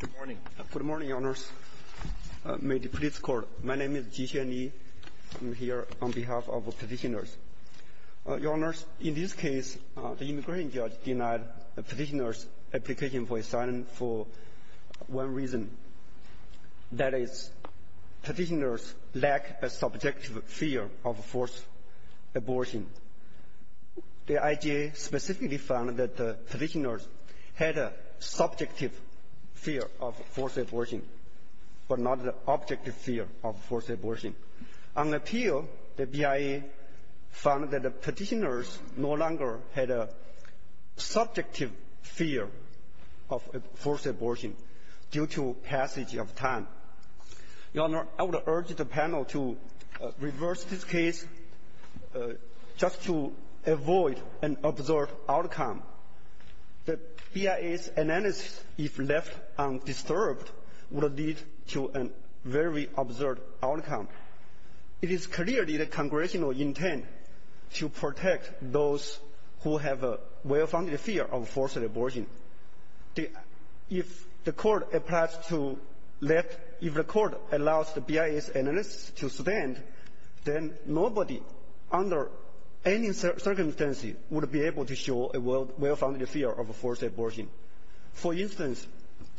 Good morning, your honors. May the police court. My name is Jixuan Li. I'm here on behalf of petitioners. Your honors, in this case, the immigration judge denied the petitioners' application for asylum for one reason. That is, petitioners lack a subjective fear of forced abortion. The IJA specifically found that the petitioners had a subjective fear of forced abortion, but not the objective fear of forced abortion. On appeal, the BIA found that the petitioners no longer had a subjective fear of forced abortion due to passage of time. Your honor, I would urge the panel to reverse this case just to avoid an absurd outcome. The BIA's analysis, if left undisturbed, will lead to a very absurd outcome. It is clearly the congressional intent to protect those who have a well-founded fear of forced abortion. If the court applies to let — if the court allows the BIA's analysis to stand, then nobody under any circumstance would be able to show a well-founded fear of forced abortion. For instance,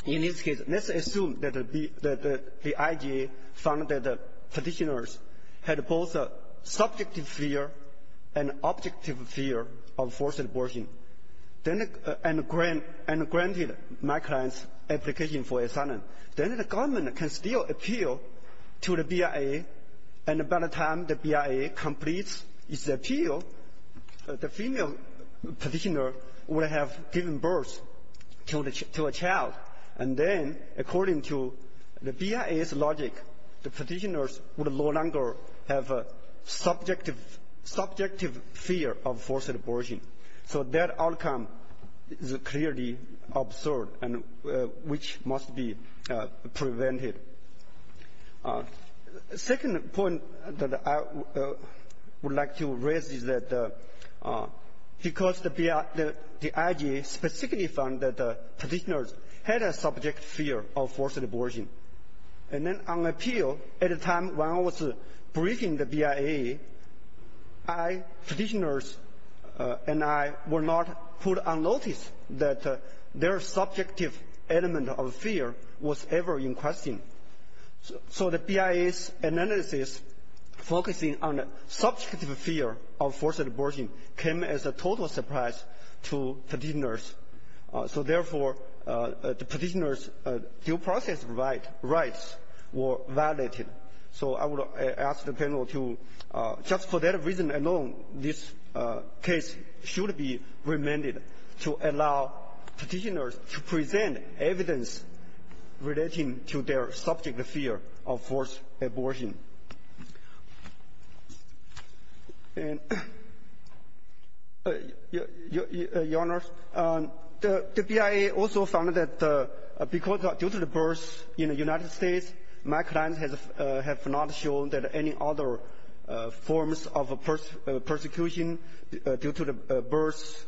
in this case, let's assume that the IJA found that the petitioners had both a subjective fear and objective fear of forced abortion. Then — and granted my client's application for asylum. Then the government can still appeal to the BIA, and by the time the BIA completes its appeal, the female petitioner will have given birth to a child. And then, according to the BIA's logic, the petitioners will no longer have a subjective — subjective fear of forced abortion. So that outcome is clearly absurd and which must be prevented. The second point that I would like to raise is that because the BIA — the IJA specifically found that the petitioners had a subjective fear of forced abortion, and then on appeal, at the time when I was briefing the BIA, I — petitioners and I were not put on notice that their subjective element of fear was ever in question. So the BIA's analysis focusing on the subjective fear of forced abortion came as a total surprise to petitioners. So therefore, the petitioners' due process rights were violated. So I would ask the panel to — just for that reason alone, this case should be remanded to allow petitioners to present evidence relating to their subject fear of forced abortion. Your Honor, the BIA also found that because — due to the birth in the United States, my client has not shown that any other forms of persecution due to the birth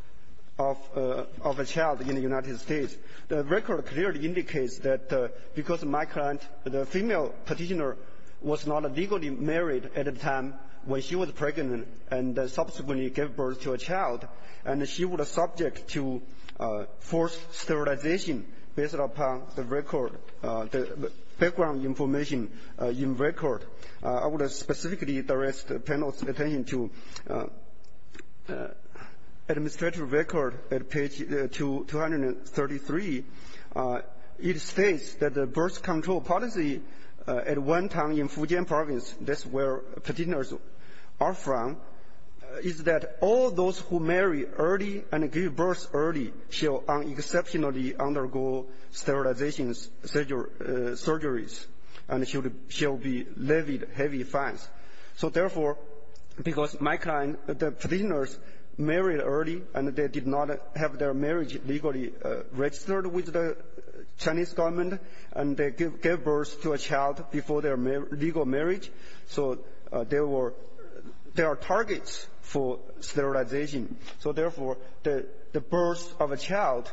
of a child in the United States. The record clearly indicates that because my client, the female petitioner, was not legally married at the time when she was pregnant and subsequently gave birth to a child, and she was subject to forced sterilization based upon the record — the background information in record. I would specifically direct the panel's attention to administrative record at page 233. It states that the birth control policy at one time in Fujian province — that's where petitioners are from — is that all those who marry early and give birth early shall exceptionally undergo sterilization surgeries and shall be levied heavy fines. So therefore, because my client, the petitioners married early and they did not have their marriage legally registered with the Chinese government and they gave birth to a child before their legal marriage, so there were — there are targets for sterilization. So therefore, the birth of a child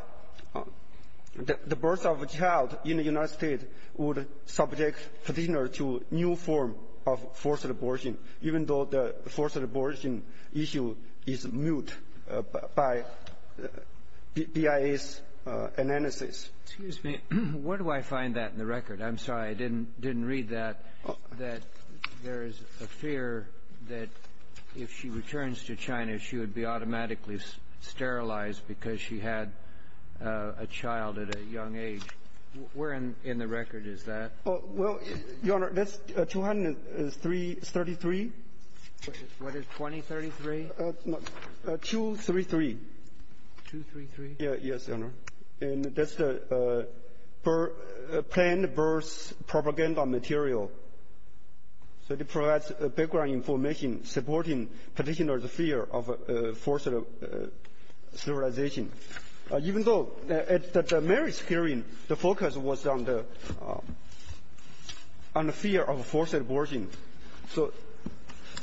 — the birth of a child in the United States would subject petitioner to new form of forced abortion, even though the forced abortion issue is moot by BIA's analysis. Excuse me. Where do I find that in the record? I'm sorry. I didn't read that, that there is a fear that if she returns to China, she would be automatically sterilized because she had a child at a young age. Where in the record is that? Well, Your Honor, that's 233. What is 2033? 233. 233? Yes, Your Honor. And that's the planned birth propaganda material. So it provides background information supporting petitioners' fear of forced sterilization, even though at the marriage hearing, the focus was on the — on the fear of forced abortion.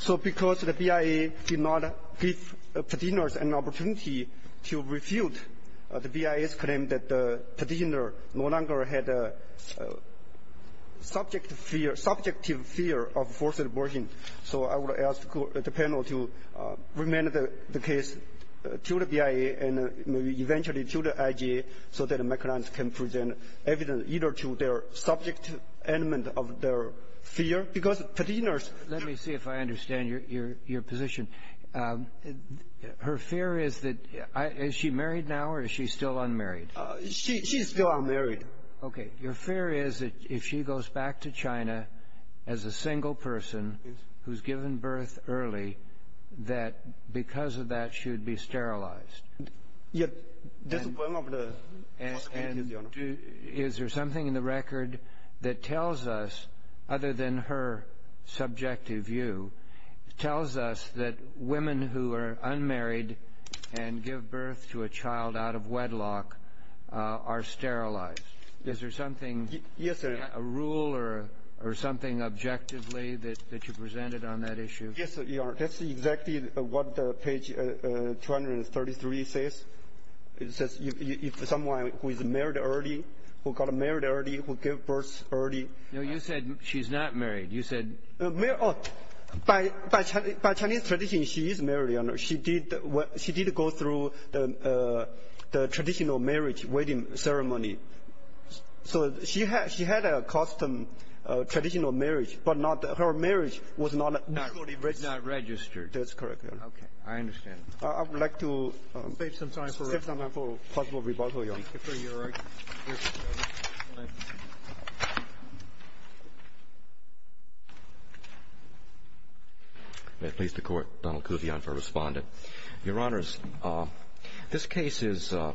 So because the BIA did not give petitioners an opportunity to refute the BIA's claim that the petitioner no longer had a subject fear — subjective fear of forced abortion, so I would ask the panel to remain the case to the BIA and maybe eventually to the IGA so that McClellan can present evidence either to their subject element of their fear because petitioners — Let me see if I understand your position. Her fear is that — is she married now or is she still unmarried? She's still unmarried. Okay. Your fear is that if she goes back to China as a single person who's given birth early, that because of that, she would be sterilized. Yes. That's one of the possibilities, Your Honor. And is there something in the record that tells us, other than her subjective view, tells us that women who are unmarried and give birth to a child out of wedlock are sterilized? Is there something — Yes, sir. A rule or something objectively that you presented on that issue? Yes, Your Honor. That's exactly what page 233 says. It says if someone who is married early, who got married early, who gave birth early — No, you said she's not married. You said — By Chinese tradition, she is married, Your Honor. She did go through the traditional marriage wedding ceremony. So she had a custom, traditional marriage, but not — her marriage was not recorded. Was not registered. That's correct, Your Honor. Okay. I understand. I would like to — Save some time for — Save some time for possible rebuttal, Your Honor. Thank you for your argument. May it please the Court, Donald Kuvion for Respondent. Your Honors, this case is, I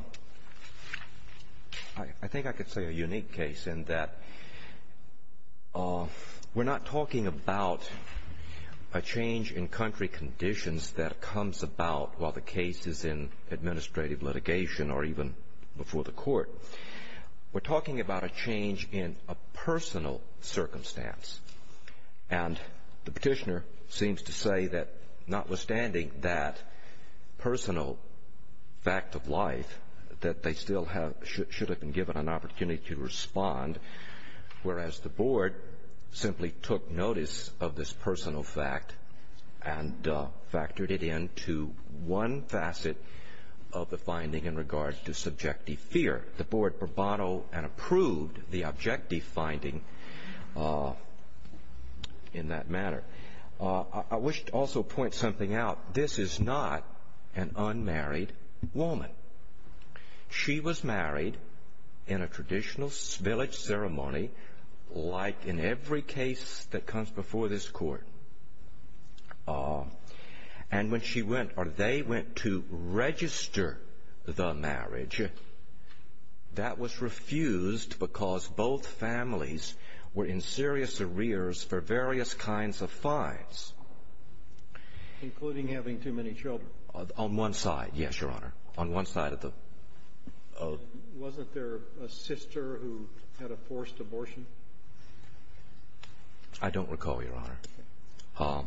think I could say, a unique case in that we're not talking about a change in country conditions that comes about while the case is in administrative litigation or even before the court. We're talking about a change in a personal circumstance. And the petitioner seems to say that notwithstanding that personal fact of life, that they still have — should have been given an opportunity to respond, whereas the board simply took notice of this personal fact and factored it into one facet of the finding in regards to subjective fear. The board bravado and approved the objective finding in that manner. I wish to also point something out. This is not an unmarried woman. She was married in a traditional village ceremony like in every case that comes before this court. And when she went or they went to register the marriage, that was refused because both families were in serious arrears for various kinds of fines. Including having too many children. On one side, yes, Your Honor. On one side of the — Wasn't there a sister who had a forced abortion? I don't recall, Your Honor.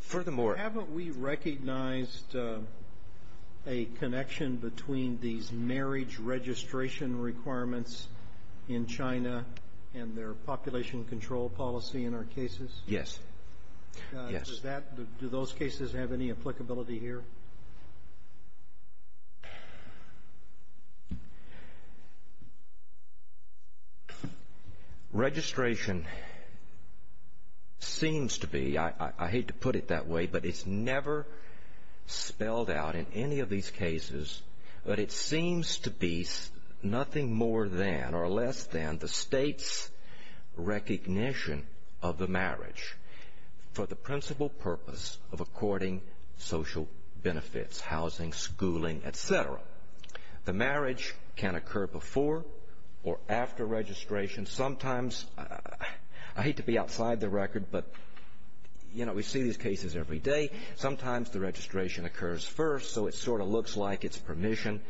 Furthermore — Haven't we recognized a connection between these marriage registration requirements in China and their population control policy in our cases? Yes. Yes. Does that — do those cases have any applicability here? Registration seems to be — I hate to put it that way, but it's never spelled out in any of these cases, but it seems to be nothing more than or less than the state's recognition of the marriage for the principal purpose of according social benefit. Housing, schooling, et cetera. The marriage can occur before or after registration. Sometimes — I hate to be outside the record, but, you know, we see these cases every day. Sometimes the registration occurs first, so it sort of looks like it's permission.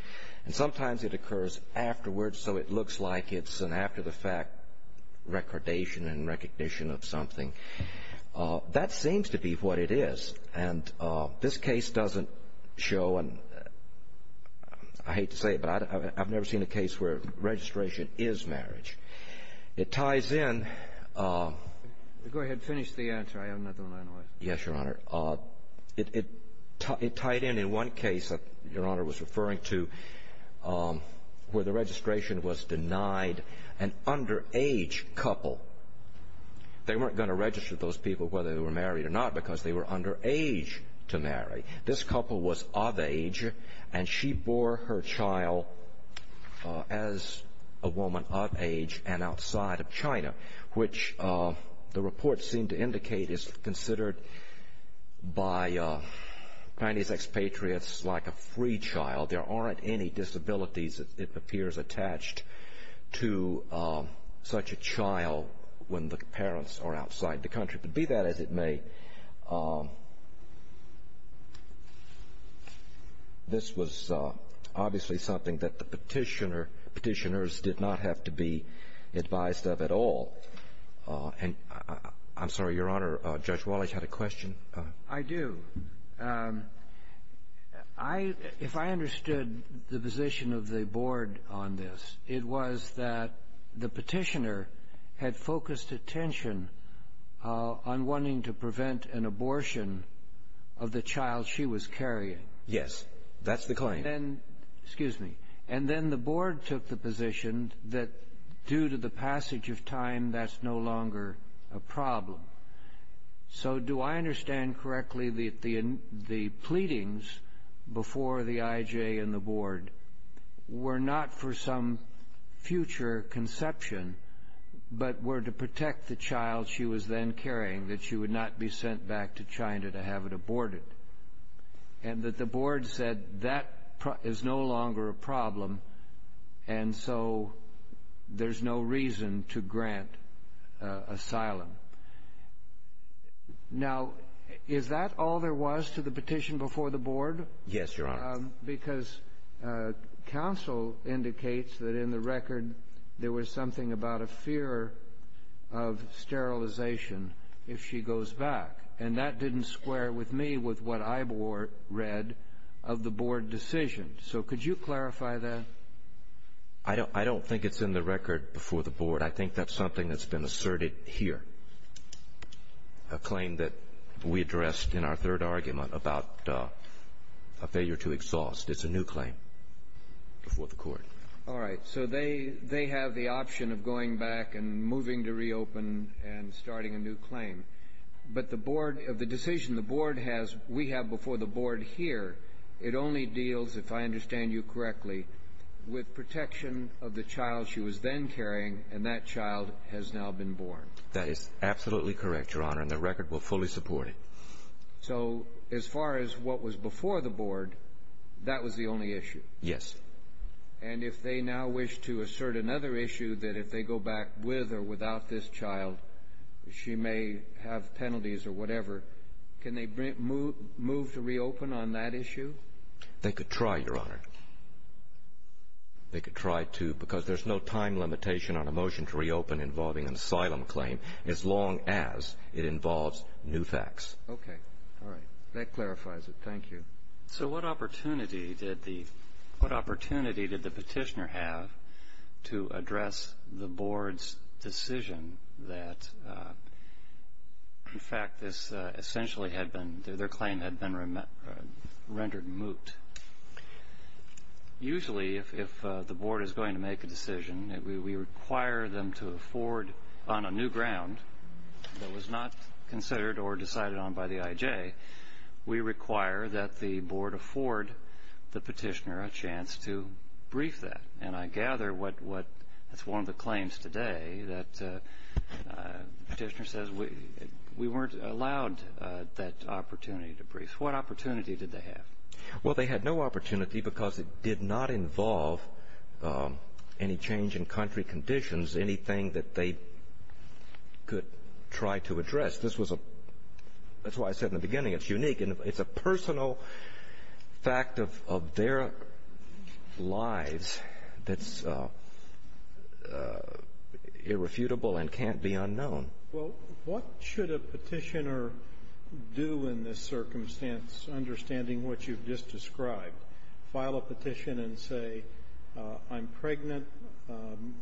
And sometimes it occurs afterwards, so it looks like it's an after-the-fact recordation and recognition of something. That seems to be what it is. And this case doesn't show — and I hate to say it, but I've never seen a case where registration is marriage. It ties in — Go ahead. Finish the answer. I have nothing to analyze. Yes, Your Honor. It tied in in one case that Your Honor was referring to where the registration was denied an underage couple. They weren't going to register those people whether they were married or not because they were underage to marry. This couple was of age, and she bore her child as a woman of age and outside of China, which the report seemed to indicate is considered by Chinese expatriates like a free child. There aren't any disabilities, it appears, attached to such a child when the parents are outside the country. Be that as it may, this was obviously something that the petitioner — petitioners did not have to be advised of at all. And I'm sorry, Your Honor, Judge Wallace had a question. I do. If I understood the position of the board on this, it was that the petitioner had focused attention on wanting to prevent an abortion of the child she was carrying. Yes, that's the claim. Excuse me. And then the board took the position that due to the passage of time, that's no longer a problem. So do I understand correctly that the pleadings before the IJ and the board were not for some future conception, but were to protect the child she was then carrying, that she would not be sent back to China to have it aborted? And that the board said that is no longer a problem, and so there's no reason to grant asylum. Now, is that all there was to the petition before the board? Yes, Your Honor. Because counsel indicates that in the record there was something about a fear of sterilization if she goes back. And that didn't square with me with what I read of the board decision. So could you clarify that? I don't think it's in the record before the board. I think that's something that's been asserted here, a claim that we addressed in our third argument about a failure to exhaust. It's a new claim before the court. All right. So they have the option of going back and moving to reopen and starting a new claim. But the board of the decision the board has, we have before the board here, it only deals, if I understand you correctly, with protection of the child she was then carrying, and that child has now been born. That is absolutely correct, Your Honor, and the record will fully support it. So as far as what was before the board, that was the only issue? Yes. And if they now wish to assert another issue, that if they go back with or without this child, she may have penalties or whatever, can they move to reopen on that issue? They could try, Your Honor. They could try to, because there's no time limitation on a motion to reopen involving an asylum claim as long as it involves new facts. Okay. All right. That clarifies it. Thank you. So what opportunity did the petitioner have to address the board's decision that, in fact, this essentially had been, their claim had been rendered moot? Usually, if the board is going to make a decision, we require them to afford on a new ground that was not considered or decided on by the IJ, we require that the board afford the petitioner a chance to brief that. And I gather that's one of the claims today, that the petitioner says we weren't allowed that opportunity to brief. What opportunity did they have? Well, they had no opportunity because it did not involve any change in country conditions, anything that they could try to address. That's why I said in the beginning it's unique. It's a personal fact of their lives that's irrefutable and can't be unknown. Well, what should a petitioner do in this circumstance, understanding what you've just described? File a petition and say, I'm pregnant, I'm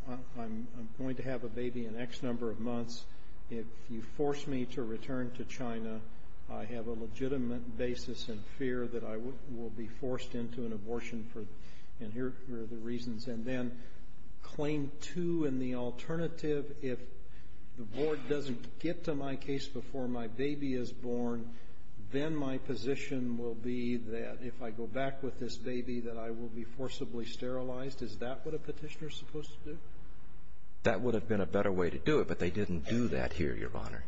going to have a baby in X number of months. If you force me to return to China, I have a legitimate basis and fear that I will be forced into an abortion. And here are the reasons. And then claim two in the alternative, if the board doesn't get to my case before my baby is born, then my position will be that if I go back with this baby that I will be forcibly sterilized. Is that what a petitioner is supposed to do? That would have been a better way to do it, but they didn't do that here, Your Honor.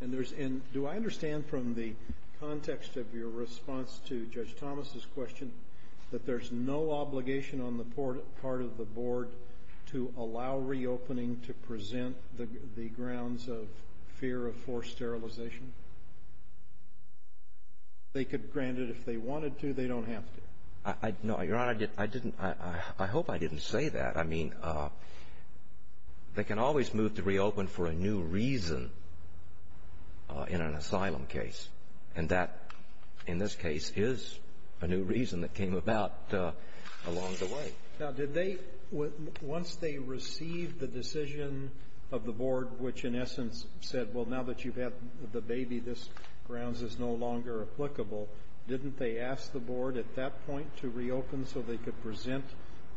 And do I understand from the context of your response to Judge Thomas' question that there's no obligation on the part of the board to allow reopening to present the grounds of fear of forced sterilization? They could grant it if they wanted to. They don't have to. No, Your Honor, I didn't – I hope I didn't say that. I mean, they can always move to reopen for a new reason in an asylum case. And that, in this case, is a new reason that came about along the way. Now, did they – once they received the decision of the board, which in essence said, well, now that you've had the baby, this grounds is no longer applicable, didn't they ask the board at that point to reopen so they could present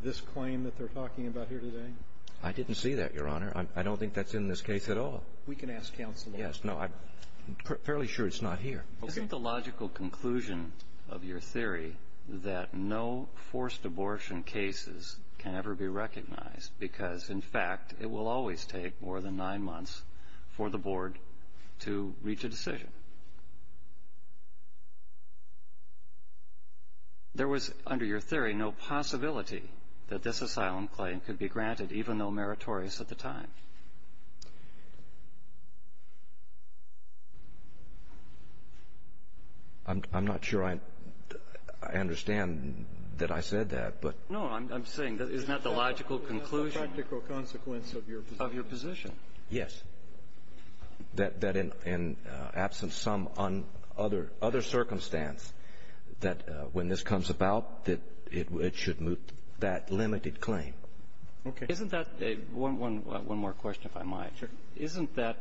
this claim that they're talking about here today? I didn't see that, Your Honor. I don't think that's in this case at all. We can ask counsel. Yes. No, I'm fairly sure it's not here. Okay. Isn't the logical conclusion of your theory that no forced abortion cases can ever be recognized because, in fact, it will always take more than nine months for the board to reach a decision? There was, under your theory, no possibility that this asylum claim could be granted, even though meritorious at the time. I'm not sure I understand that I said that. No, I'm saying, isn't that the logical conclusion? That's the practical consequence of your position. Of your position. Yes. That in absence of some other circumstance, that when this comes about, that it should moot that limited claim. Okay. Isn't that a – one more question, if I might. Sure. Isn't that,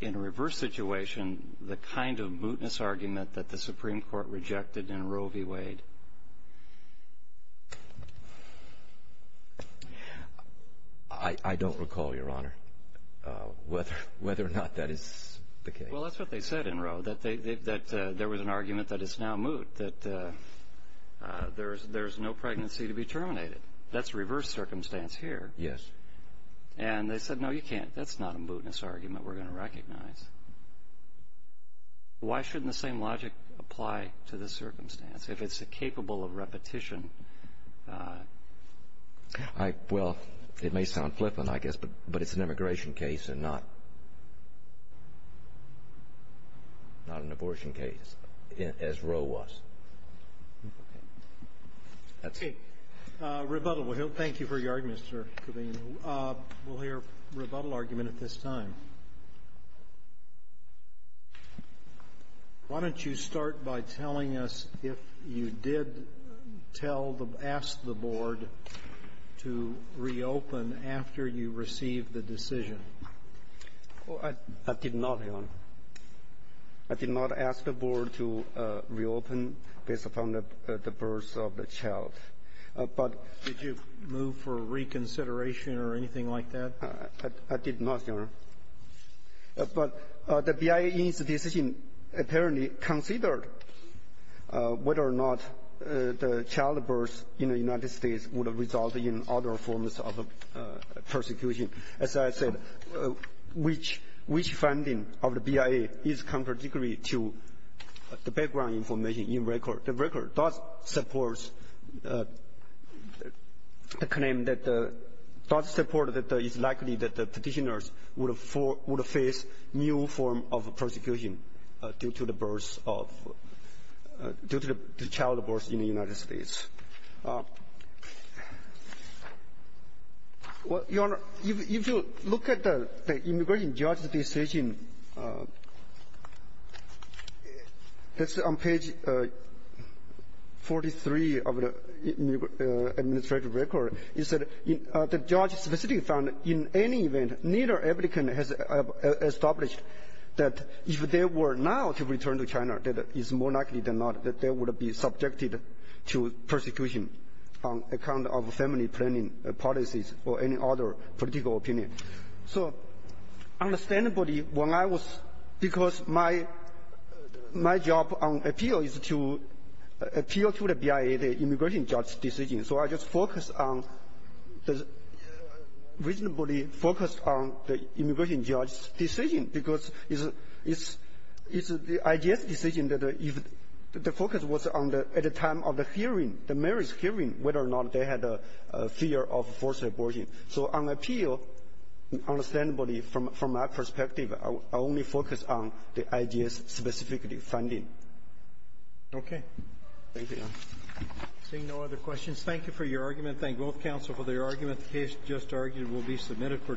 in a reverse situation, the kind of mootness argument that the Supreme Court rejected in Roe v. Wade? I don't recall, Your Honor, whether or not that is the case. Well, that's what they said in Roe, that there was an argument that it's now moot, that there's no pregnancy to be terminated. That's reverse circumstance here. Yes. And they said, no, you can't. That's not a mootness argument we're going to recognize. Why shouldn't the same logic apply to this circumstance, if it's capable of repetition? Well, it may sound flippant, I guess, but it's an immigration case and not an abortion case, as Roe was. That's it. Rebuttal. Thank you for your argument, Mr. Kovane. We'll hear a rebuttal argument at this time. Why don't you start by telling us if you did tell the – ask the Board to reopen after you received the decision? I did not, Your Honor. I did not ask the Board to reopen based upon the birth of the child. But — Did you move for reconsideration or anything like that? I did not, Your Honor. But the BIA's decision apparently considered whether or not the child birth in the United States would result in other forms of persecution. As I said, which – which finding of the BIA is contradictory to the background information in record. The record does support the claim that the – does support that it's likely that the Petitioners would face new form of persecution due to the birth of – due to the child birth in the United States. Well, Your Honor, if you look at the immigration judge's decision, that's on page 43 of the administrative record, is that the judge specifically found in any event neither applicant has established that if they were now to return to China, that it's more likely that the child would be subjected to persecution on account of family planning policies or any other political opinion. So understandably, when I was – because my – my job on appeal is to appeal to the BIA, the immigration judge's decision. So I just focused on – reasonably focused on the immigration judge's decision because it's – it's the IJS decision that – the focus was on the – at the time of the hearing, the mayor's hearing, whether or not they had a fear of forced abortion. So on appeal, understandably, from my perspective, I only focused on the IJS specifically Okay. Thank you, Your Honor. Seeing no other questions, thank you for your argument. Thank both counsel for their argument. The case just argued will be submitted for decision.